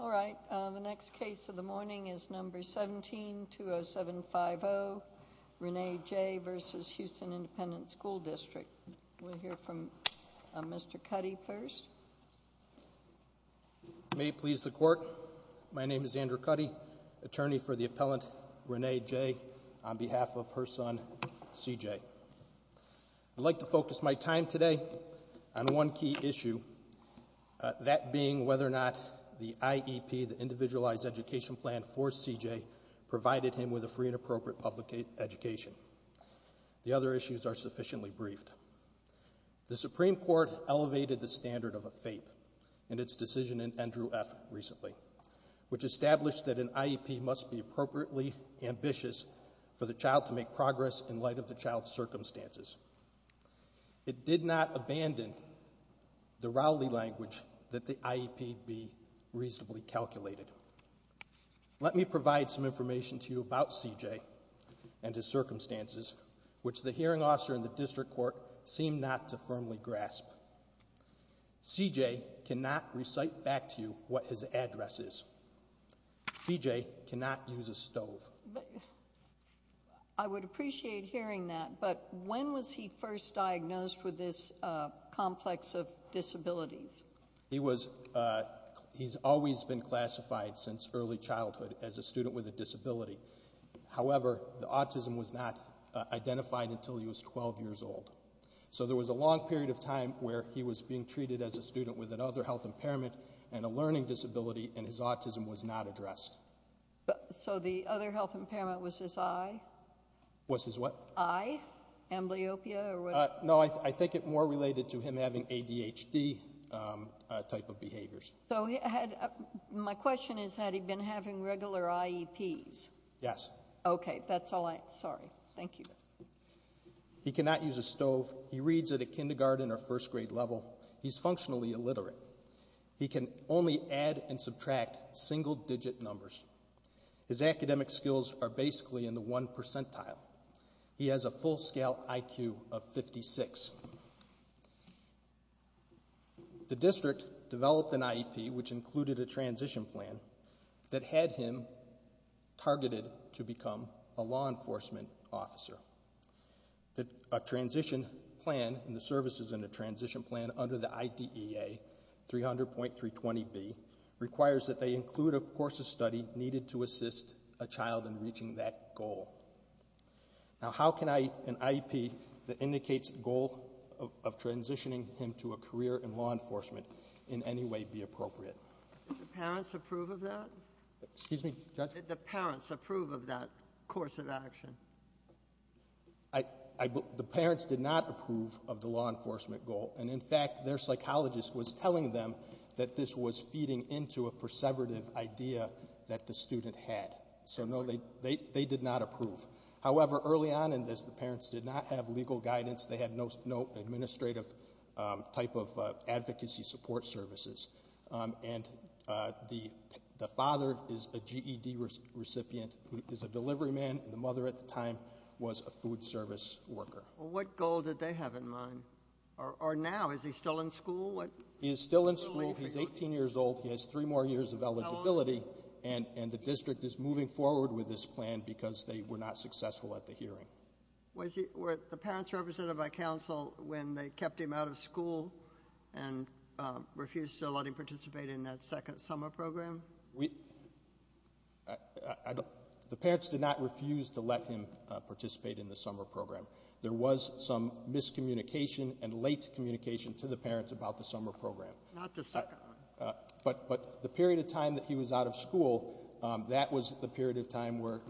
All right. The next case of the morning is number 17, 20750, Renee J. v. Houston Independent School District. We'll hear from Mr. Cuddy first. May it please the Court, my name is Andrew Cuddy, attorney for the appellant Renee J. on behalf of her son C.J. I'd like to focus my time today on one key issue, that being whether or not the IEP, the Individualized Education Plan for C.J. provided him with a free and appropriate public education. The other issues are sufficiently briefed. The Supreme Court elevated the standard of a FAPE in its decision in Andrew F. recently, which established that an IEP must be appropriately ambitious for the child to make progress in light of the child's circumstances. It did not abandon the Rowley language that the IEP be reasonably calculated. Let me provide some which the hearing officer in the district court seemed not to firmly grasp. C.J. cannot recite back to you what his address is. C.J. cannot use a stove. I would appreciate hearing that, but when was he first diagnosed with this complex of disabilities? He's always been classified since early childhood as a student with a disability. However, the autism was not identified until he was 12 years old. So there was a long period of time where he was being treated as a student with another health impairment and a learning disability and his autism was not addressed. So the other health impairment was his eye? Was his what? Eye? Amblyopia or what? No, I think it more related to him having ADHD type of behaviors. So my question is, had he been having regular IEPs? Yes. Okay, that's all I, sorry. Thank you. He cannot use a stove. He reads at a kindergarten or first grade level. He's functionally illiterate. He can only add and subtract single digit numbers. His academic skills are IEP, which included a transition plan that had him targeted to become a law enforcement officer. A transition plan and the services in the transition plan under the IDEA 300.320B requires that they include, of course, a study needed to assist a child in reaching that goal. Now, how can an IEP that indicates the goal of transitioning him to a career in law enforcement be appropriate? Did the parents approve of that? Excuse me, Judge? Did the parents approve of that course of action? The parents did not approve of the law enforcement goal. And in fact, their psychologist was telling them that this was feeding into a perseverative idea that the student had. So no, they did not approve. However, early on in this, the parents did not have legal guidance. They had no administrative type of advocacy support services. And the father is a GED recipient, who is a delivery man. And the mother at the time was a food service worker. Well, what goal did they have in mind? Or now, is he still in school? He is still in school. He's 18 years old. He has three more years of eligibility. And the district is moving forward with this plan because they were not successful at the hearing. Were the parents represented by counsel when they kept him out of school and refused to let him participate in that second summer program? The parents did not refuse to let him participate in the summer program. There was some miscommunication and late communication to the parents about the summer program. Not the second one. But the period of time that he was out of school, that was the period of time where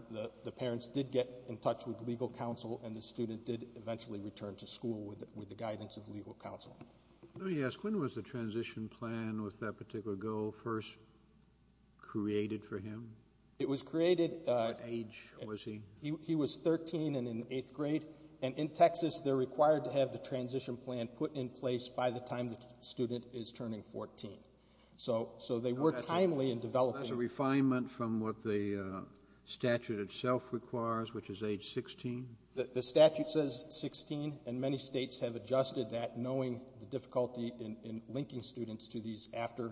the parents did get in touch with legal counsel and the student did eventually return to school with the guidance of legal counsel. Let me ask, when was the transition plan with that particular goal first created for him? It was created at age, was he? He was 13 and in eighth grade. And in Texas, they're required to have the transition plan put in place by the time the student is turning 14. So they were timely in developing That's a refinement from what the statute itself requires, which is age 16? The statute says 16, and many states have adjusted that, knowing the difficulty in linking students to these after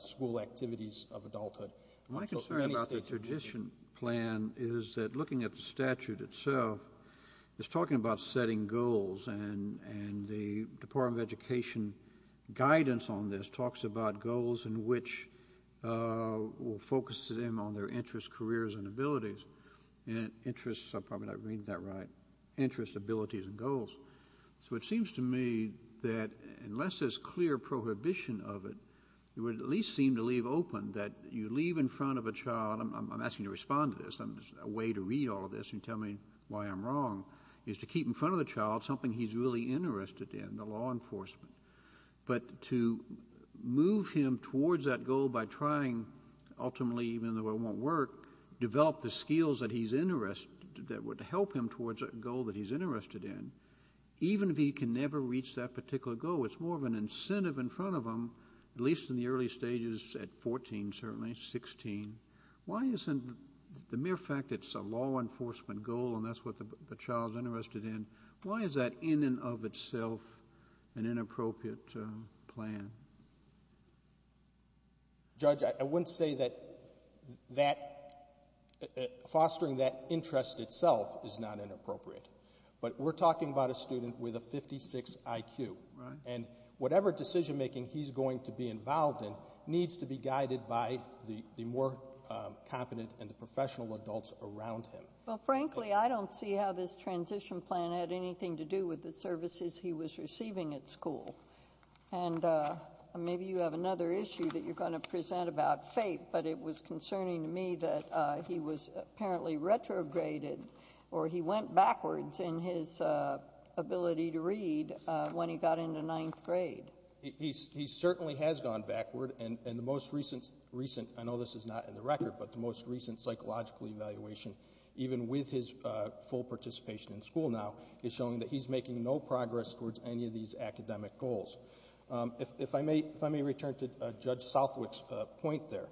school activities of adulthood. My concern about the transition plan is that looking at the statute itself, it's talking about setting goals, and the Department of Education guidance on this talks about goals in which will focus them on their interests, careers, and abilities. And interests, I'm probably not reading that right, interests, abilities, and goals. So it seems to me that unless there's clear prohibition of it, it would at least seem to leave open that you leave in front of a child, I'm asking you to respond to this, a way to read all of this and tell me why I'm wrong, is to keep in front of the child something he's really interested in, the law enforcement. But to move him towards that goal by trying, ultimately even though it won't work, develop the skills that he's interested, that would help him towards a goal that he's interested in, even if he can never reach that particular goal, it's more of an incentive in front of him, at least in the early stages at 14, certainly, 16, why isn't the mere fact that it's a law enforcement goal and that's what the child's interested in, why is that in and of itself an inappropriate plan? Judge, I wouldn't say that fostering that interest itself is not inappropriate, but we're talking about a student with a 56 IQ, and whatever decision making he's going to be involved in needs to be guided by the more competent and professional adults around him. Well, frankly, I don't see how this transition plan had anything to do with the services he was receiving at school. And maybe you have another issue that you're going to present about fate, but it was concerning to me that he was apparently retrograded, or he went backwards in his ability to read when he got into ninth grade. He certainly has gone backward, and the most recent, I know this is not in the record, but the most recent psychological evaluation, even with his full participation in school now, is showing that he's making no progress towards any of these academic goals. If I may return to Judge Southwick's point there,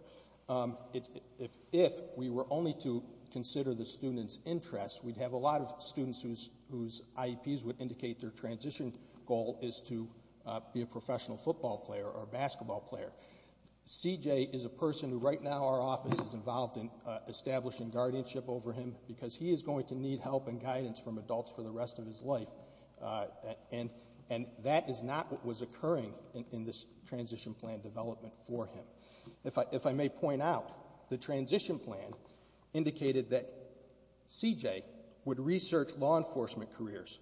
if we were only to consider the student's interests, we'd have a lot of students whose IEPs would indicate their transition goal is to be a professional football player or basketball player. CJ is a person who right now our office is involved in establishing guardianship over him because he is going to need help and guidance from adults for the rest of his life, and that is not what was occurring in this transition plan development for him. If I may point out, the transition plan indicated that CJ would research law enforcement careers.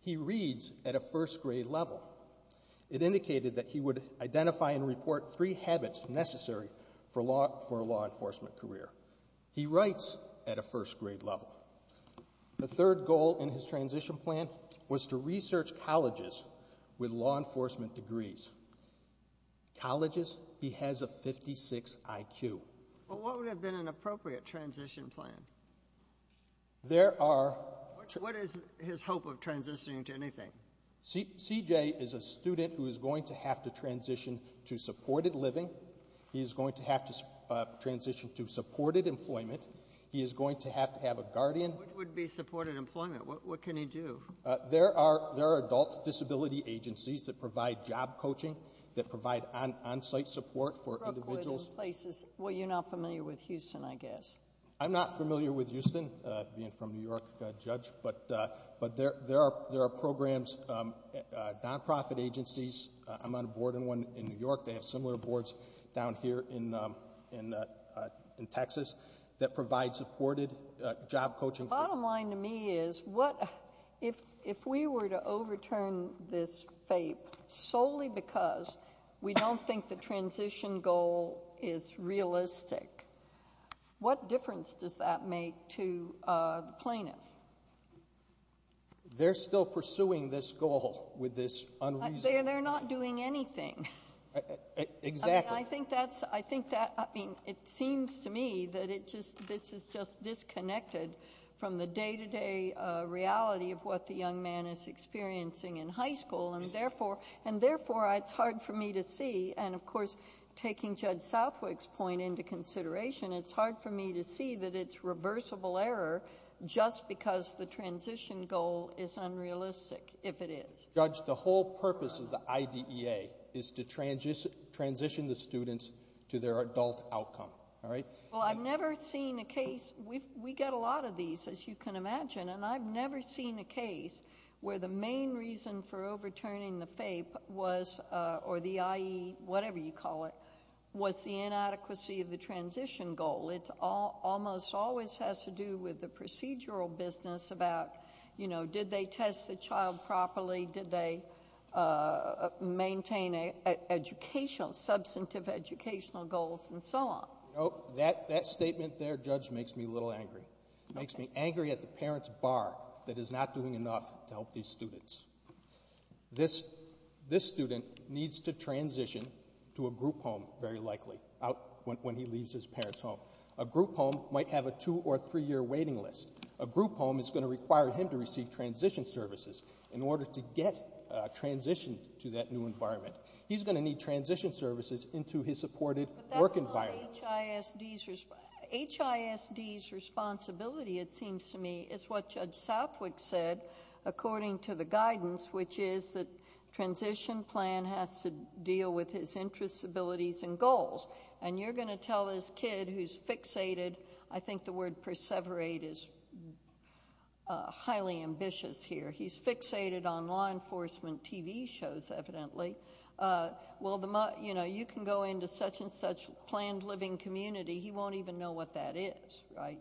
He reads at a first grade level. It indicated that he would identify and report three habits necessary for a law enforcement career. He writes at a first grade level. The third goal in his transition plan was to research colleges with law enforcement degrees. Colleges, he has a 56 IQ. Well, what would have been an appropriate transition plan? There are... What is his hope of transitioning to anything? CJ is a student who is going to have to transition to supported living. He is going to have to transition to supported employment. He is going to have to have a guardian. What would be supported employment? What can he do? There are adult disability agencies that provide job coaching, that provide on-site support for individuals. Well, you're not familiar with Houston, I guess. I'm not familiar with Houston, being from New York, Judge, but there are programs, non-profit agencies. I'm on a board in one in New York. They have similar boards down here in Texas that provide supported job coaching. The bottom line to me is, if we were to overturn this fate solely because we don't think the transition goal is realistic, what difference does that make to the plaintiff? They're still pursuing this goal with this unreasonable... They're not doing anything. Exactly. I mean, it seems to me that this is just disconnected from the day-to-day reality of what the young man is experiencing in high school, and therefore, it's hard for me to see, and of course, taking Judge Southwick's point into consideration, it's hard for me to see that it's reversible error just because the transition goal is unrealistic, if it is. Judge, the whole purpose of the IDEA is to transition the students to their adult outcome, all right? Well, I've never seen a case... We get a lot of these, as you can imagine, and I've never seen a case where the main reason for overturning the FAPE was, or the IE, whatever you call it, was the inadequacy of the transition goal. It almost always has to do with the procedural business about, you know, did they test the child properly? Did they maintain educational, substantive educational goals, and so on? That statement there, Judge, makes me a little angry. It makes me angry at the parents' bar that is not doing enough to help these students. This student needs to transition to a group home, very likely, when he leaves his parents' home. A group home might have a two- or three-year waiting list. A group home is going to require him to receive transition services in order to get transitioned to that new environment. He's going to need transition services into his supported work environment. HISD's responsibility, it seems to me, is what Judge Southwick said, according to the guidance, which is that transition plan has to deal with his interests, abilities, and goals. And you're going to tell this kid who's fixated. I think the word perseverate is highly ambitious here. He's fixated on law enforcement TV shows, evidently. You can go into such-and-such planned living community, he won't even know what that is, right?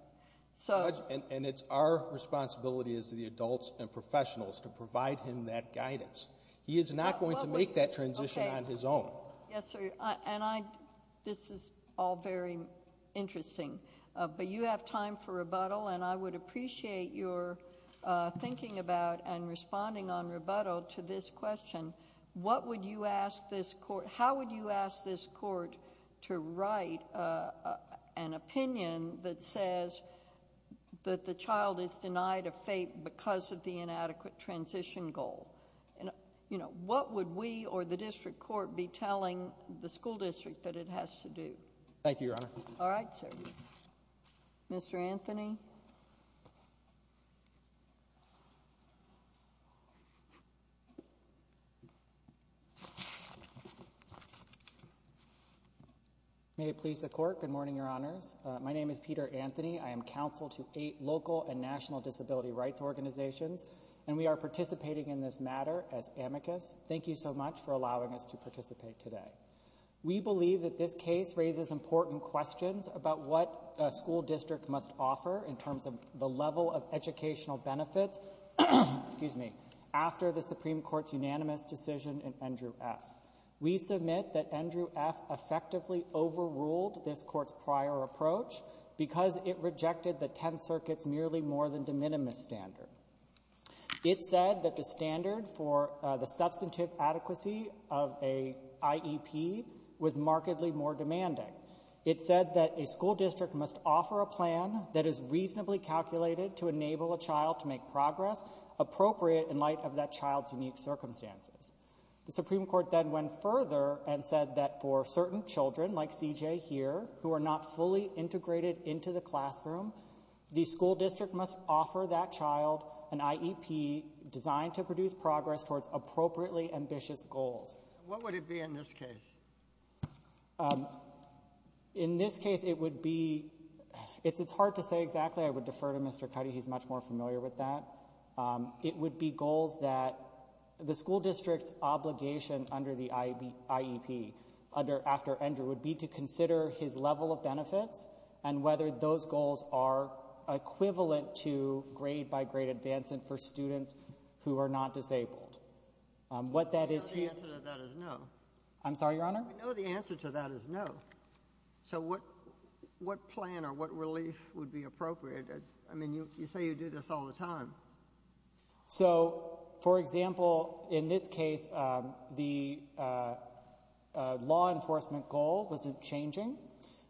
And it's our responsibility as the adults and professionals to provide him that guidance. He is not going to make that transition on his own. Yes, sir, and this is all very interesting, but you have time for rebuttal, and I would appreciate your thinking about and responding on rebuttal to this question. How would you ask this court to write an opinion that says that the child is denied a FAPE because of the inadequate transition goal? What would we or the district court be telling the school district that it has to do? Thank you, Your Honor. All right, sir. Mr. Anthony? May it please the court, good morning, Your Honors. My name is Peter Anthony. I am counsel to eight local and national disability rights organizations, and we are participating in this matter as amicus. Thank you so much for allowing us to participate today. We believe that this case raises important questions about what a school district must offer in terms of the level of educational benefits after the Supreme Court's unanimous decision in Andrew F. We submit that Andrew F. effectively overruled this court's prior approach because it rejected the Tenth Circuit's merely more than de minimis standard. It said that the standard for the substantive adequacy of an IEP was markedly more demanding. It said that a school district must offer a plan that is reasonably calculated to enable a child to make progress appropriate in light of that child's unique circumstances. The Supreme Court then went further and said that for certain children, like C.J. here, who are not fully integrated into the classroom, the school district must offer that child an IEP designed to produce progress towards appropriately ambitious goals. What would it be in this case? In this case, it would be—it's hard to say exactly. I would defer to Mr. Cuddy. He's much more familiar with that. It would be goals that the school district's obligation under the IEP, after Andrew, would be to consider his level of benefits and whether those goals are equivalent to grade-by-grade advancement for students who are not disabled. I know the answer to that is no. I'm sorry, Your Honor? I know the answer to that is no. So what plan or what relief would be appropriate? I mean, you say you do this all the time. So, for example, in this case, the law enforcement goal wasn't changing,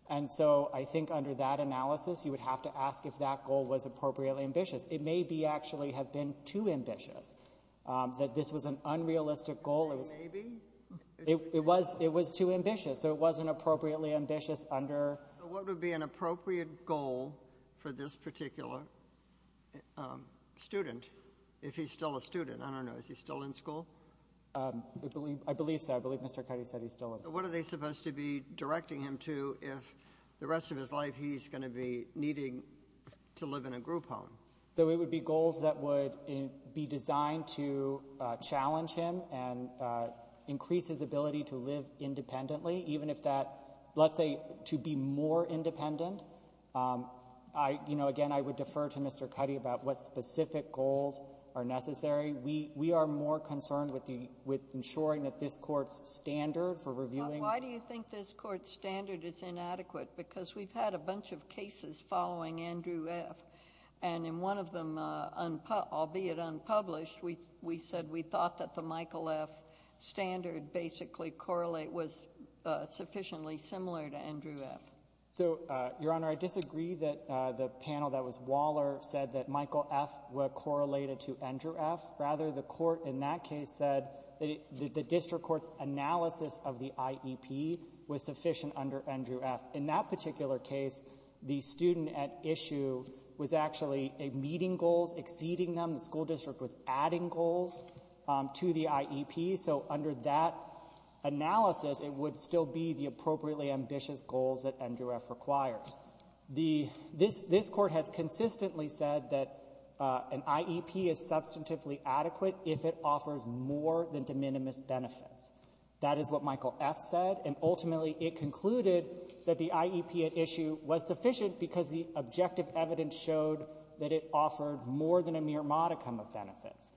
and so I think under that analysis you would have to ask if that goal was appropriately ambitious. It may actually have been too ambitious, that this was an unrealistic goal. You say maybe? It was too ambitious, so it wasn't appropriately ambitious under— So what would be an appropriate goal for this particular student, if he's still a student? I don't know. Is he still in school? I believe so. I believe Mr. Cuddy said he's still in school. What are they supposed to be directing him to if the rest of his life he's going to be needing to live in a group home? So it would be goals that would be designed to challenge him and increase his ability to live independently, even if that—let's say to be more independent. Again, I would defer to Mr. Cuddy about what specific goals are necessary. We are more concerned with ensuring that this Court's standard for reviewing— Why do you think this Court's standard is inadequate? Because we've had a bunch of cases following Andrew F., and in one of them, albeit unpublished, we said we thought that the Michael F. standard basically was sufficiently similar to Andrew F. So, Your Honor, I disagree that the panel that was Waller said that Michael F. were correlated to Andrew F. Rather, the Court in that case said that the district court's analysis of the IEP was sufficient under Andrew F. In that particular case, the student at issue was actually meeting goals, exceeding them. The school district was adding goals to the IEP. So under that analysis, it would still be the appropriately ambitious goals that Andrew F. requires. This Court has consistently said that an IEP is substantively adequate if it offers more than de minimis benefits. That is what Michael F. said, and ultimately, it concluded that the IEP at issue was sufficient because the objective evidence showed that it offered more than a mere modicum of benefits.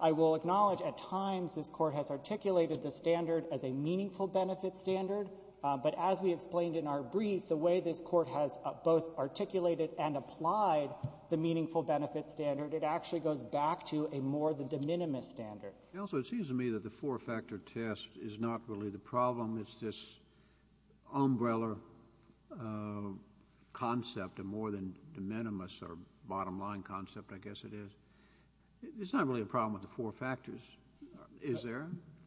I will acknowledge at times this Court has articulated the standard as a meaningful benefit standard. But as we explained in our brief, the way this Court has both articulated and applied the meaningful benefit standard, it actually goes back to a more than de minimis standard. And also, it seems to me that the four-factor test is not really the problem. It's this umbrella concept, a more than de minimis or bottom-line concept, I guess it is. It's not really a problem with the four factors, is there?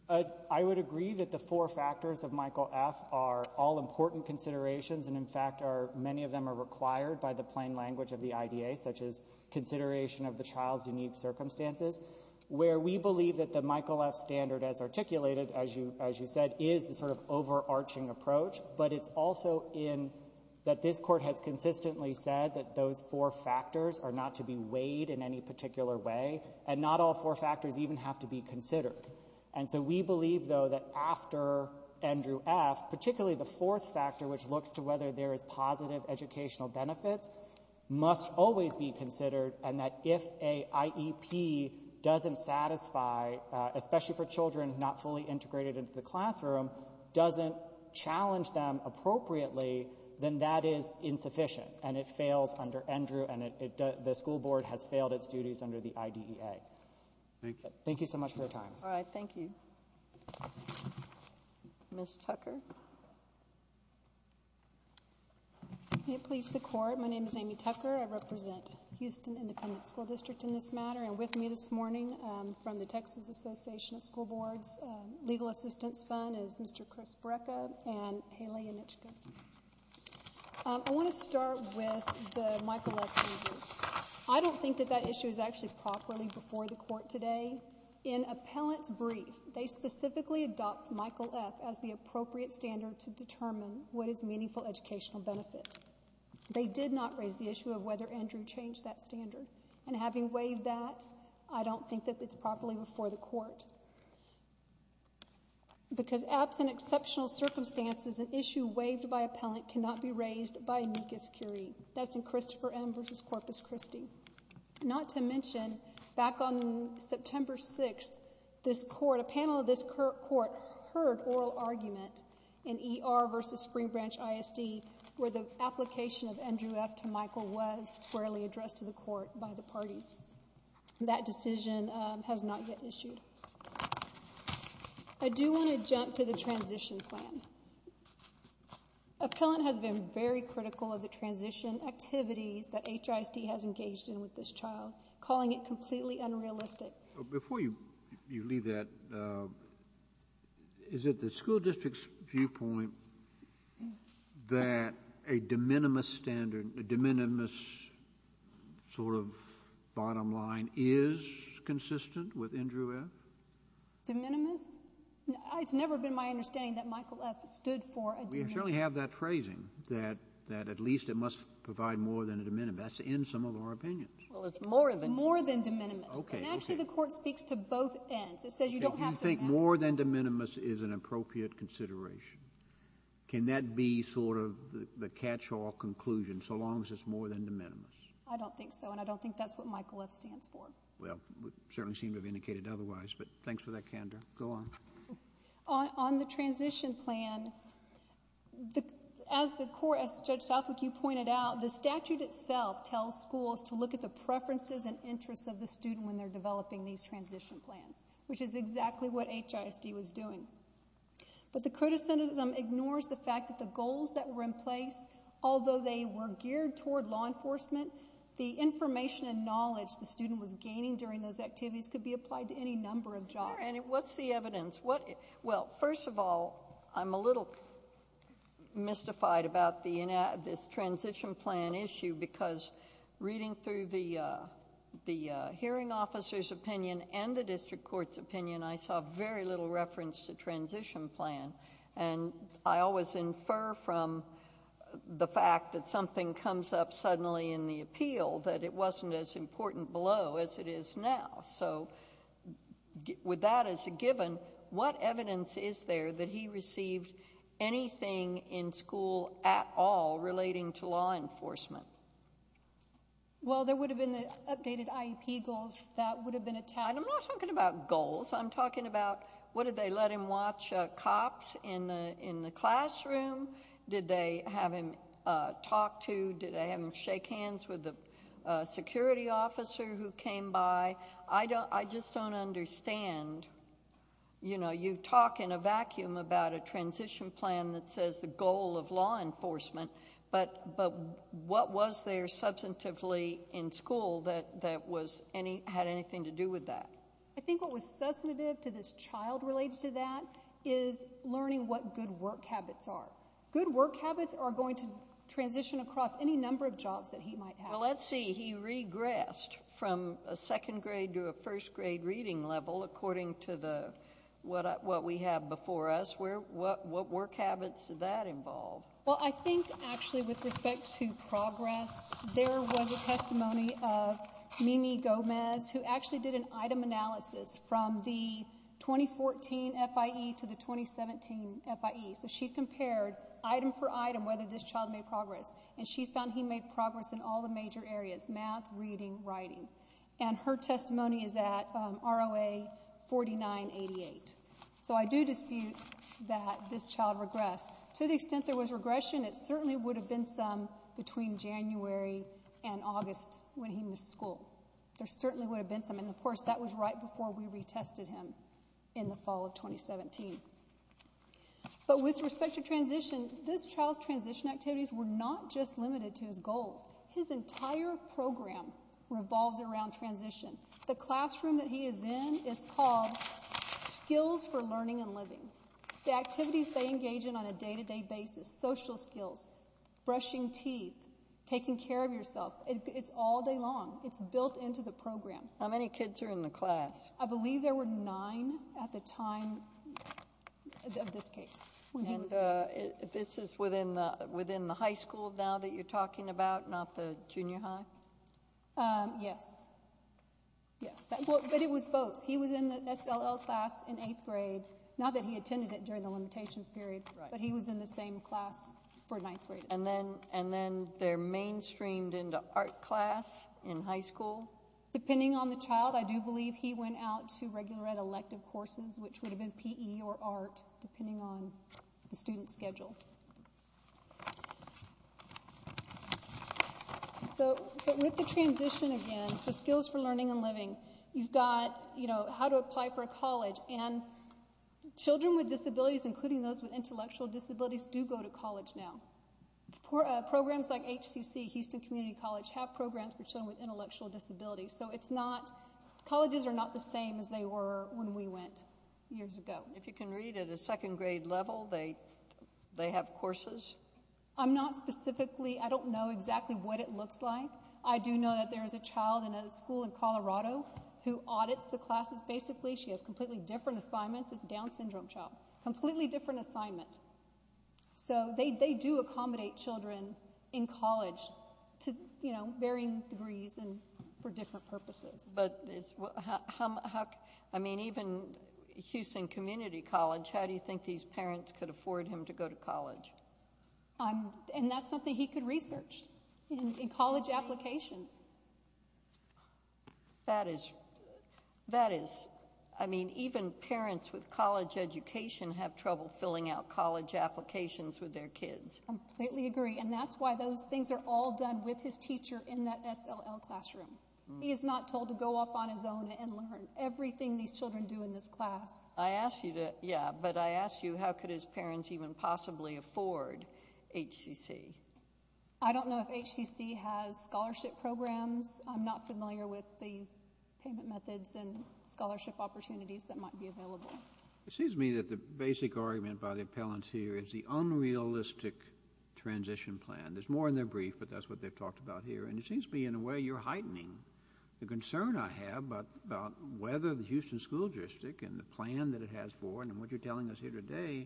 I would agree that the four factors of Michael F. are all important considerations, and in fact, many of them are required by the plain language of the IDA, such as consideration of the child's unique circumstances, where we believe that the Michael F. standard, as articulated, as you said, is the sort of overarching approach. But it's also in that this Court has consistently said that those four factors are not to be considered in any particular way, and not all four factors even have to be considered. And so we believe, though, that after Andrew F., particularly the fourth factor, which looks to whether there is positive educational benefits, must always be considered, and that if a IEP doesn't satisfy, especially for children not fully integrated into the classroom, doesn't challenge them appropriately, then that is insufficient, and it fails under the IDEA. Thank you. Thank you so much for your time. All right. Thank you. Ms. Tucker? May it please the Court, my name is Amy Tucker. I represent Houston Independent School District in this matter, and with me this morning from the Texas Association of School Boards Legal Assistance Fund is Mr. Chris Brekka and Haley Yanichka. I want to start with the Michael F. issue. I don't think that that issue is actually properly before the Court today. In Appellant's brief, they specifically adopt Michael F. as the appropriate standard to determine what is meaningful educational benefit. They did not raise the issue of whether Andrew changed that standard, and having waived that, I don't think that it's properly before the Court, because absent exceptional circumstances, an issue waived by Appellant cannot be raised by amicus curiae. That's in Christopher M. v. Corpus Christi. Not to mention, back on September 6th, this Court, a panel of this Court heard oral argument in ER v. Spring Branch ISD where the application of Andrew F. to Michael was squarely addressed to the Court by the parties. That decision has not yet issued. I do want to jump to the transition plan. Appellant has been very critical of the transition activities that HIST has engaged in with this child, calling it completely unrealistic. Before you leave that, is it the school district's viewpoint that a de minimis standard, a de minimis sort of bottom line is consistent with Andrew F.? De minimis? It's never been my understanding that Michael F. stood for a de minimis. We certainly have that phrasing, that at least it must provide more than a de minimis. That's in some of our opinions. Well, it's more than. More than de minimis. Okay. And actually the Court speaks to both ends. It says you don't have to. You think more than de minimis is an appropriate consideration. Can that be sort of the catch-all conclusion, so long as it's more than de minimis? I don't think so, and I don't think that's what Michael F. stands for. Well, it certainly seems to have indicated otherwise, but thanks for that candor. Go on. On the transition plan, as the Court, as Judge Southwick, you pointed out, the statute itself tells schools to look at the preferences and interests of the student when they're developing these transition plans, which is exactly what HIST was doing. But the criticism ignores the fact that the goals that were in place, although they were activities could be applied to any number of jobs. Sure. And what's the evidence? Well, first of all, I'm a little mystified about this transition plan issue, because reading through the hearing officer's opinion and the district court's opinion, I saw very little reference to transition plan. And I always infer from the fact that something comes up suddenly in the appeal that it is now. So with that as a given, what evidence is there that he received anything in school at all relating to law enforcement? Well, there would have been the updated IEP goals. That would have been attached. I'm not talking about goals. I'm talking about, what, did they let him watch cops in the classroom? Did they have him talk to, did they have him shake hands with the security officer who came by? I just don't understand. You know, you talk in a vacuum about a transition plan that says the goal of law enforcement, but what was there substantively in school that had anything to do with that? I think what was substantive to this child related to that is learning what good work habits are. Good work habits are going to transition across any number of jobs that he might have. Well, let's see. He regressed from a second grade to a first grade reading level according to the, what we have before us. What work habits did that involve? Well, I think actually with respect to progress, there was a testimony of Mimi Gomez who actually did an item analysis from the 2014 FIE to the 2017 FIE. So she compared item for item whether this child made progress. And she found he made progress in all the major areas, math, reading, writing. And her testimony is at ROA 4988. So I do dispute that this child regressed. To the extent there was regression, it certainly would have been some between January and August when he missed school. There certainly would have been some. And of course, that was right before we retested him in the fall of 2017. But with respect to transition, this child's transition activities were not just limited to his goals. His entire program revolves around transition. The classroom that he is in is called Skills for Learning and Living. The activities they engage in on a day-to-day basis, social skills, brushing teeth, taking care of yourself. It's all day long. It's built into the program. How many kids are in the class? I believe there were nine at the time of this case. And this is within the high school now that you're talking about, not the junior high? Yes. Yes. But it was both. He was in the SLL class in eighth grade. Not that he attended it during the limitations period, but he was in the same class for ninth grade. And then they're mainstreamed into art class in high school? No. Depending on the child, I do believe he went out to regular elective courses, which would have been PE or art, depending on the student's schedule. So with the transition again, so Skills for Learning and Living, you've got, you know, how to apply for a college. And children with disabilities, including those with intellectual disabilities, do go to college now. Programs like HCC, Houston Community College, have programs for children with intellectual disabilities. So it's not, colleges are not the same as they were when we went years ago. If you can read, at a second grade level, they have courses? I'm not specifically, I don't know exactly what it looks like. I do know that there is a child in a school in Colorado who audits the classes. Basically, she has completely different assignments. It's Down syndrome child. Completely different assignment. So they do accommodate children in college to, you know, varying degrees and for different purposes. But it's, how, I mean, even Houston Community College, how do you think these parents could afford him to go to college? And that's something he could research in college applications. That is, that is, I mean, even parents with college education have trouble filling out college applications with their kids. Completely agree. And that's why those things are all done with his teacher in that SLL classroom. He is not told to go off on his own and learn everything these children do in this class. I ask you to, yeah, but I ask you, how could his parents even possibly afford HCC? I don't know if HCC has scholarship programs. I'm not familiar with the payment methods and scholarship opportunities that might be available. It seems to me that the basic argument by the appellants here is the unrealistic transition plan. There's more in their brief, but that's what they've talked about here. And it seems to me, in a way, you're heightening the concern I have about whether the Houston School District and the plan that it has for, and what you're telling us here today,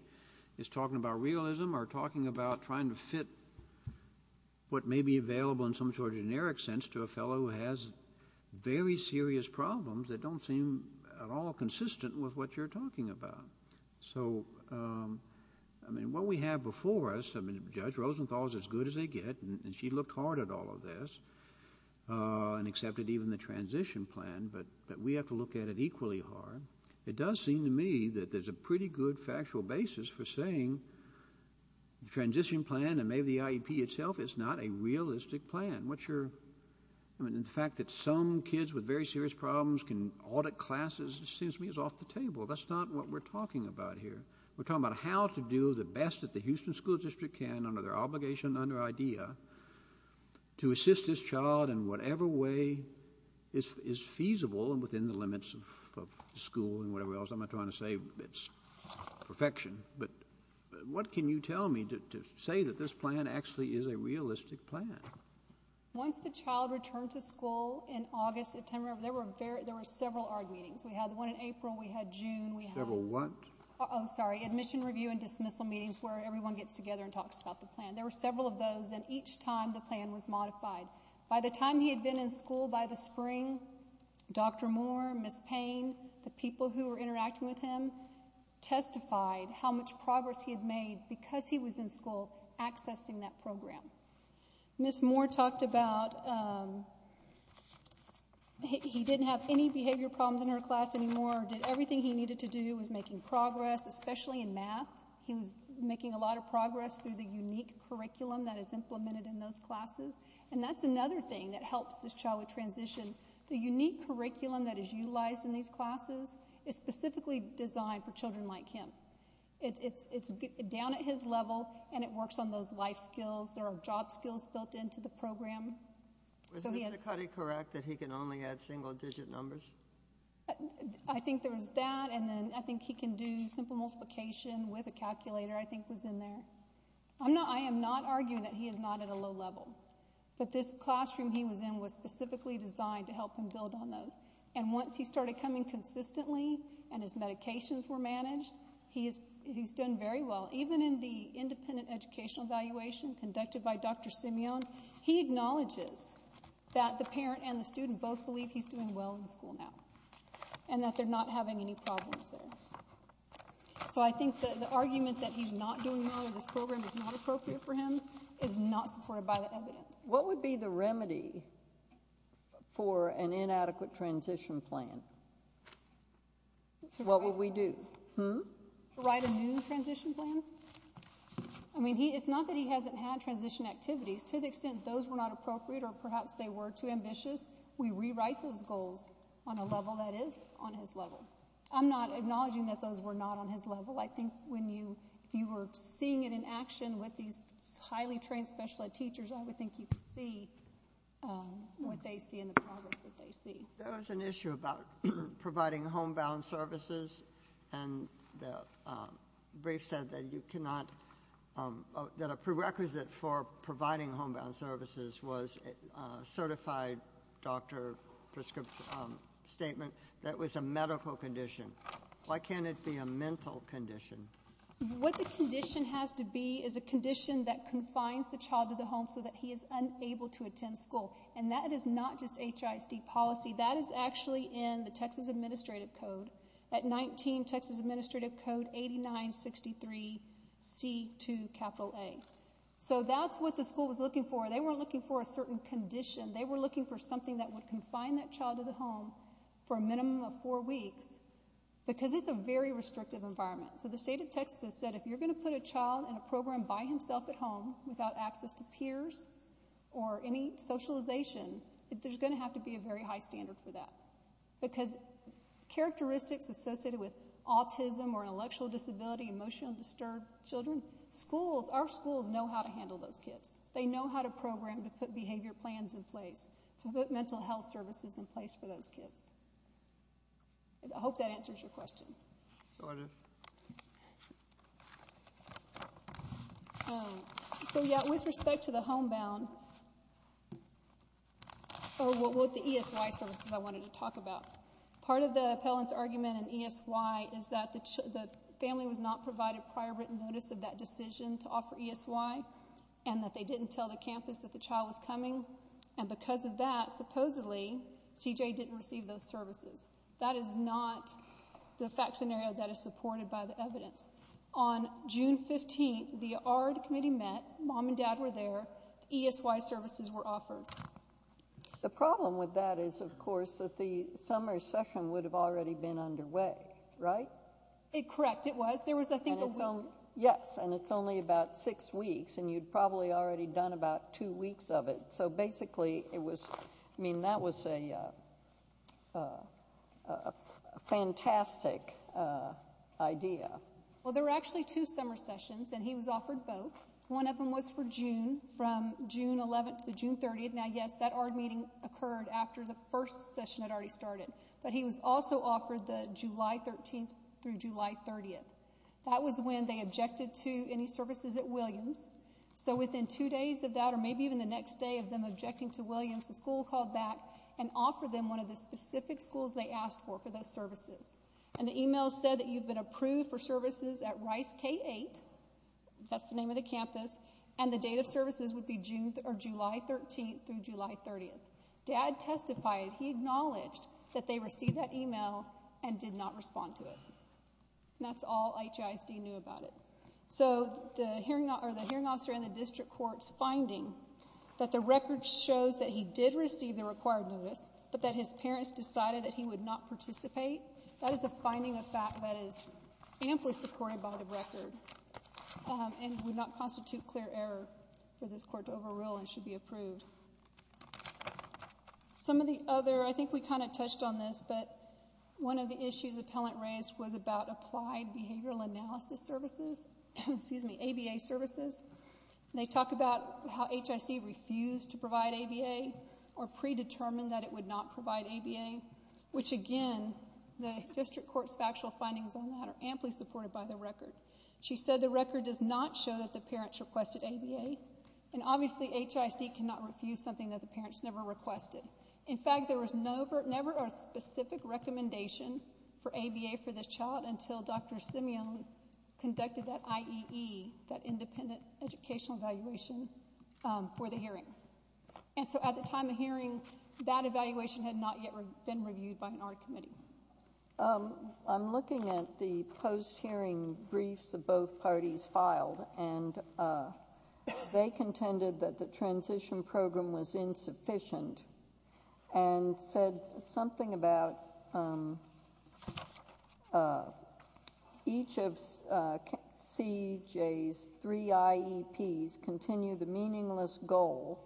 is talking about realism or talking about trying to fit what may be available in some sort of generic sense to a fellow who has very serious problems that don't seem at all consistent with what you're talking about. So, I mean, what we have before us, I mean, Judge Rosenthal is as good as they get, and she looked hard at all of this and accepted even the transition plan, but we have to look at it equally hard. It does seem to me that there's a pretty good factual basis for saying the transition plan and maybe the IEP itself is not a realistic plan. What's your, I mean, the fact that some kids with very serious problems can audit classes seems to me is off the table. That's not what we're talking about here. We're talking about how to do the best that the Houston School District can under their obligation, under IDEA, to assist this child in whatever way is feasible and within the limits of the school and whatever else. I'm not trying to say it's perfection, but what can you tell me to say that this plan actually is a realistic plan? Once the child returned to school in August, September, there were several ARD meetings. We had one in April. We had one in June. Several what? Oh, sorry. Admission review and dismissal meetings where everyone gets together and talks about the plan. There were several of those, and each time the plan was modified. By the time he had been in school by the spring, Dr. Moore, Ms. Payne, the people who were interacting with him testified how much progress he had made because he was in school accessing that program. Ms. Moore talked about he didn't have any behavior problems in her class anymore or did everything he needed to do. He was making progress, especially in math. He was making a lot of progress through the unique curriculum that is implemented in those classes, and that's another thing that helps this child with transition. The unique curriculum that is utilized in these classes is specifically designed for children like him. It's down at his level, and it works on those life skills. There are job skills built into the program. Was Mr. Cuddy correct that he can only add single-digit numbers? I think there was that, and then I think he can do simple multiplication with a calculator I think was in there. I am not arguing that he is not at a low level, but this classroom he was in was specifically designed to help him build on those, and once he started coming consistently and his medications were managed, he's done very well. Even in the independent educational evaluation conducted by Dr. Simeon, he acknowledges that the parent and the student both believe he's doing well in school now and that they're not having any problems there. So I think the argument that he's not doing well or this program is not appropriate for him is not supported by the evidence. What would be the remedy for an inadequate transition plan? What would we do? Write a new transition plan? I mean, it's not that he hasn't had transition activities. To the extent those were not appropriate or perhaps they were too ambitious, we rewrite those goals on a level that is on his level. I'm not acknowledging that those were not on his level. I think if you were seeing it in action with these highly trained special ed teachers, I would think you could see what they see and the progress that they see. There was an issue about providing homebound services and the brief said that you cannot that a prerequisite for providing homebound services was a certified doctor prescription statement that was a medical condition. Why can't it be a mental condition? What the condition has to be is a condition that confines the child to the home so that he is unable to attend school. And that is not just HISD policy. That is actually in the Texas Administrative Code. That 19 Texas Administrative Code 8963C2A. So that's what the school was looking for. They weren't looking for a certain condition. They were looking for something that would confine that child to the home for a minimum of four weeks because it's a very restrictive environment. So the state of Texas has said if you're going to put a child in a program by himself at there's going to have to be a very high standard for that because characteristics associated with autism or intellectual disability, emotionally disturbed children, our schools know how to handle those kids. They know how to program to put behavior plans in place, to put mental health services in place for those kids. I hope that answers your question. Go ahead. So, yeah, with respect to the homebound or what the ESY services I wanted to talk about, part of the appellant's argument in ESY is that the family was not provided prior written notice of that decision to offer ESY and that they didn't tell the campus that the child was coming. And because of that, supposedly, CJ didn't receive those services. That is not the fact scenario that is supported by the evidence. On June 15th, the ARD committee met. Mom and dad were there. ESY services were offered. The problem with that is, of course, that the summer session would have already been underway, right? Correct, it was. There was, I think, a week. Yes, and it's only about six weeks, and you'd probably already done about two weeks of it. So, basically, it was, I mean, that was a fantastic idea. Well, there were actually two summer sessions, and he was offered both. One of them was for June, from June 11th to June 30th. Now, yes, that ARD meeting occurred after the first session had already started, but he was also offered the July 13th through July 30th. That was when they objected to any services at Williams. So, within two days of that, or maybe even the next day of them objecting to Williams, the school called back and offered them one of the specific schools they asked for for those services. And the email said that you've been approved for services at Rice K-8. That's the name of the campus. And the date of services would be July 13th through July 30th. Dad testified. He acknowledged that they received that email and did not respond to it. And that's all HISD knew about it. So the hearing officer in the district court's finding that the record shows that he did receive the required notice, but that his parents decided that he would not participate, that is a finding of fact that is amply supported by the record and would not constitute clear error for this court to overrule and should be approved. Some of the other, I think we kind of touched on this, but one of the issues the appellant raised was about applied behavioral analysis services, excuse me, ABA services. They talk about how HISD refused to provide ABA or predetermined that it would not provide ABA, which, again, the district court's factual findings on that are amply supported by the record. She said the record does not show that the parents requested ABA, and obviously HISD cannot refuse something that the parents never requested. In fact, there was never a specific recommendation for ABA for this child until Dr. Simeon conducted that IEE, that independent educational evaluation, for the hearing. And so at the time of hearing, that evaluation had not yet been reviewed by an art committee. I'm looking at the post-hearing briefs that both parties filed, and they contended that the transition program was insufficient and said something about each of CJ's three IEPs continue the meaningless goal,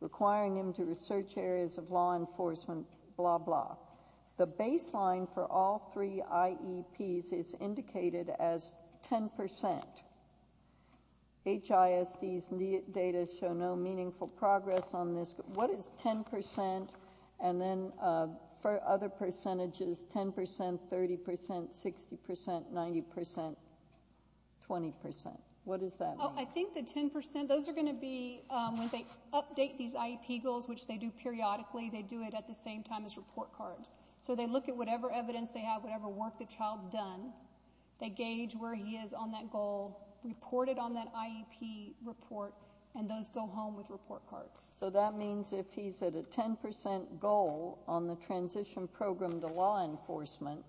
requiring him to research areas of law enforcement, blah, blah. The baseline for all three IEPs is indicated as 10 percent. HISD's data show no meaningful progress on this. What is 10 percent? And then for other percentages, 10 percent, 30 percent, 60 percent, 90 percent, 20 percent? What does that mean? I think the 10 percent, those are going to be when they update these IEP goals, which they do periodically. They do it at the same time as report cards. So they look at whatever evidence they have, whatever work the child's done. They gauge where he is on that goal, report it on that IEP report, and those go home with report cards. So that means if he's at a 10 percent goal on the transition program to law enforcement,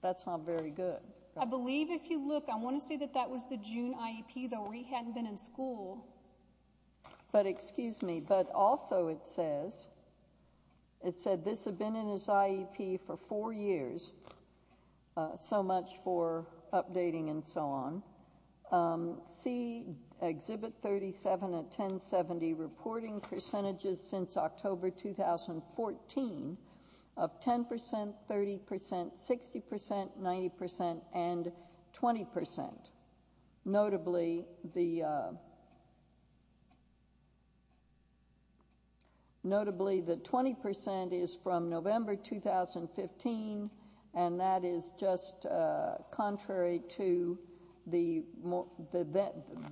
that's not very good. I believe if you look, I want to say that that was the June IEP, though, where he hadn't been in school. But also it says, it said this had been in his IEP for four years, so much for updating and so on. See Exhibit 37 at 1070, reporting percentages since October 2014 of 10 percent, 30 percent, 60 percent, 90 percent, and 20 percent. Notably, the 20 percent is from November 2015, and that is just contrary to the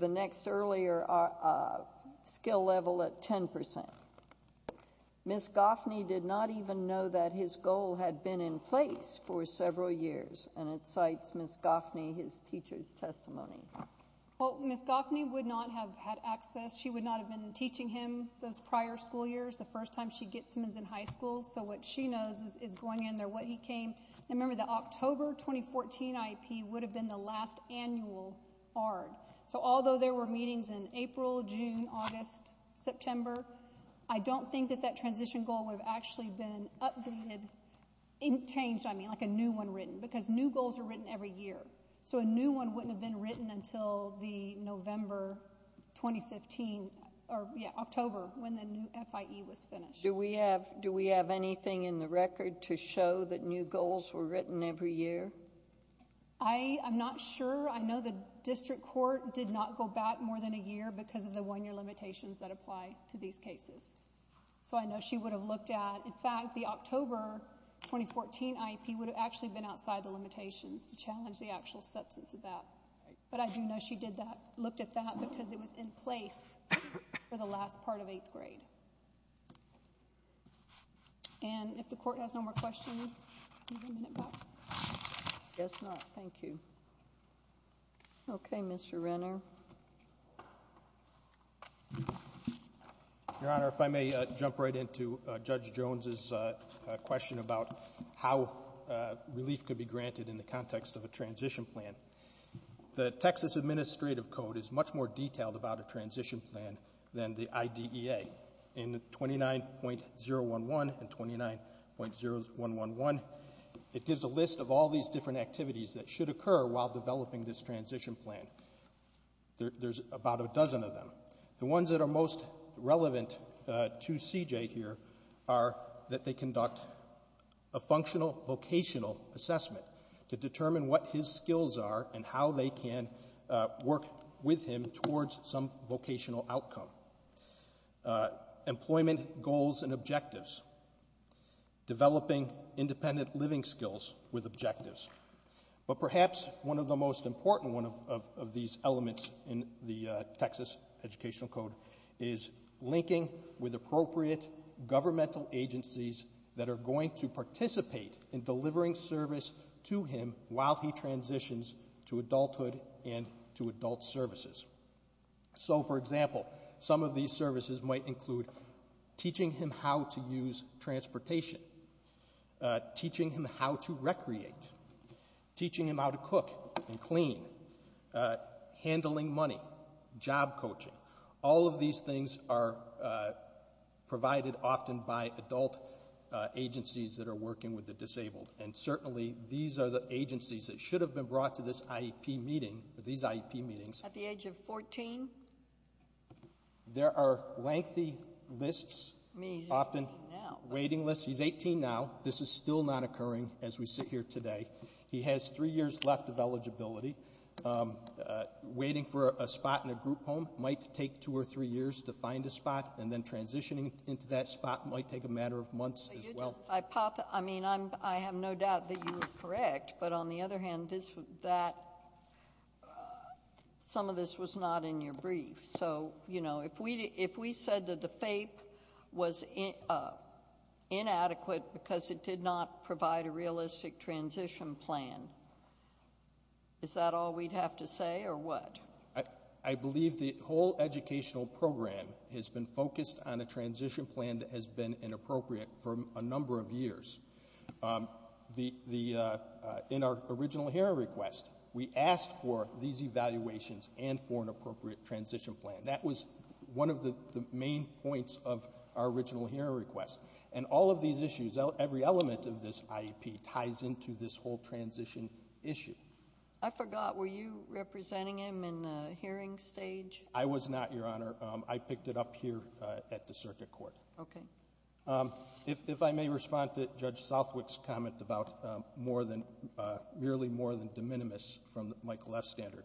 next earlier skill level at 10 percent. Ms. Goffney did not even know that his goal had been in place for several years, and it cites Ms. Goffney, his teacher's testimony. Well, Ms. Goffney would not have had access. She would not have been teaching him those prior school years, the first time she gets him is in high school. So what she knows is going in there what he came. And remember, the October 2014 IEP would have been the last annual ARD. So although there were meetings in April, June, August, September, I don't think that that transition goal would have actually been updated, changed, I mean, like a new one written, because new goals are written every year. So a new one wouldn't have been written until the November 2015, or yeah, October when the new FIE was finished. Do we have anything in the record to show that new goals were written every year? I'm not sure. I know the district court did not go back more than a year because of the one-year limitations that apply to these cases. So I know she would have looked at... The October 2014 IEP would have actually been outside the limitations to challenge the actual substance of that. But I do know she did that, looked at that, because it was in place for the last part of eighth grade. And if the Court has no more questions, we have a minute left. I guess not. Thank you. Okay, Mr. Renner. Your Honor, if I may jump right into Judge Jones's question about how relief could be granted in the context of a transition plan. The Texas Administrative Code is much more detailed about a transition plan than the IDEA. In 29.011 and 29.0111, it gives a list of all these different activities that should occur while developing this transition plan. There's about a dozen of them. The ones that are most relevant to C.J. here are that they conduct a functional vocational assessment to determine what his skills are and how they can work with him towards some vocational outcome. Employment goals and objectives. Developing independent living skills with objectives. But perhaps one of the most important of these elements in the Texas Educational Code is linking with appropriate governmental agencies that are going to participate in delivering service to him while he transitions to adulthood and to adult services. So, for example, some of these services might include teaching him how to use transportation, teaching him how to recreate, teaching him how to cook and clean, handling money, job coaching. All of these things are provided often by adult agencies that are working with the disabled, and certainly these are the agencies that should have been brought to these IEP meetings. At the age of 14? There are lengthy lists, often waiting lists. He's 18 now. This is still not occurring as we sit here today. He has three years left of eligibility. Waiting for a spot in a group home might take two or three years to find a spot, and then transitioning into that spot might take a matter of months as well. I mean, I have no doubt that you are correct, but on the other hand, some of this was not in your brief. So, you know, if we said that the FAPE was inadequate because it did not provide a realistic transition plan, is that all we'd have to say or what? I believe the whole educational program has been focused on a transition plan that has been inappropriate for a number of years. In our original hearing request, we asked for these evaluations and for an appropriate transition plan. That was one of the main points of our original hearing request. And all of these issues, every element of this IEP ties into this whole transition issue. I forgot. Were you representing him in the hearing stage? I was not, Your Honor. I picked it up here at the circuit court. Okay. If I may respond to Judge Southwick's comment about more than, merely more than de minimis from the Michael F. standard.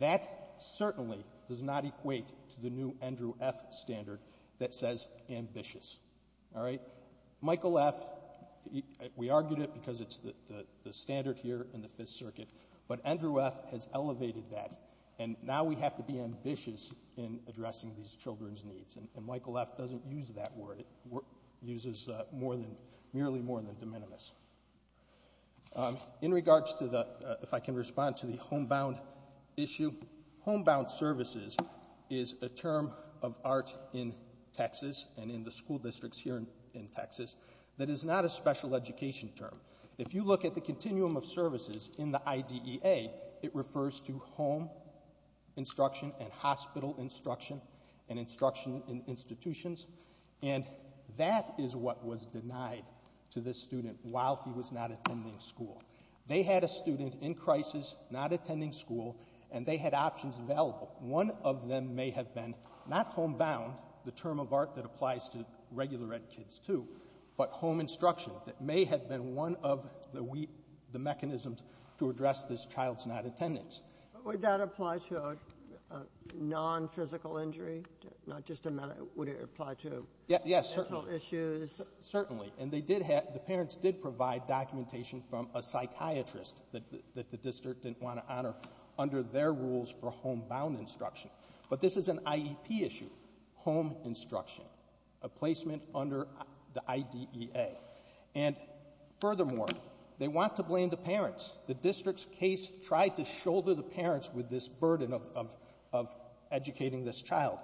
That certainly does not equate to the new Andrew F. standard that says ambitious. All right? Michael F., we argued it because it's the standard here in the Fifth Circuit, but Andrew F. has elevated that, and now we have to be ambitious in addressing these children's needs. And Michael F. doesn't use that word. It uses more than, merely more than de minimis. In regards to the, if I can respond to the homebound issue, homebound services is a term of art in Texas and in the school districts here in Texas that is not a special education term. If you look at the continuum of services in the IDEA, it refers to home instruction and hospital instruction and instruction in institutions, and that is what was denied to this student while he was not attending school. They had a student in crisis not attending school, and they had options available. One of them may have been not homebound, the term of art that applies to regular ed kids too, but home instruction that may have been one of the mechanisms to address this child's not attendance. But would that apply to a nonphysical injury, not just a mental? Would it apply to mental issues? Yes, certainly. Certainly. And they did have the parents did provide documentation from a psychiatrist that the district didn't want to honor under their rules for homebound instruction. But this is an IEP issue, home instruction, a placement under the IDEA. And furthermore, they want to blame the parents. The district's case tried to shoulder the parents with this burden of educating this child.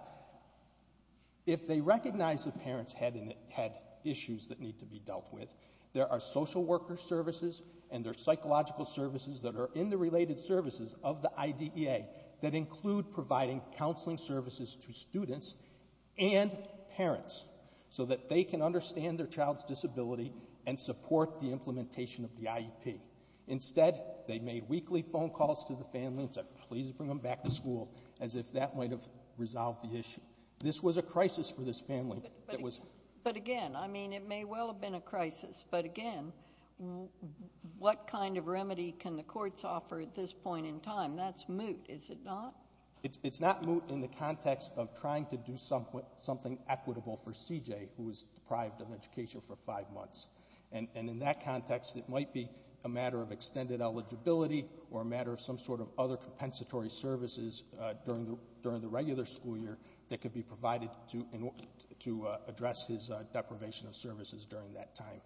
If they recognize the parents had issues that need to be dealt with, there are social worker services and there are psychological services that are in the related services of the IDEA that include providing counseling services to students and parents so that they can understand their child's disability and support the implementation of the IEP. Instead, they made weekly phone calls to the family and said, please bring them back to school as if that might have resolved the issue. This was a crisis for this family. But again, I mean, it may well have been a crisis. But again, what kind of remedy can the courts offer at this point in time? That's moot, is it not? It's not moot in the context of trying to do something equitable for CJ, who was deprived of education for five months. And in that context, it might be a matter of extended eligibility or a matter of some sort of other compensatory services during the regular school year that could be provided to address his deprivation of services during that time.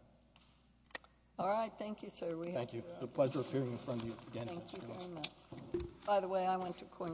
All right. Thank you, sir. Thank you. Pleasure hearing from you again. Thank you very much.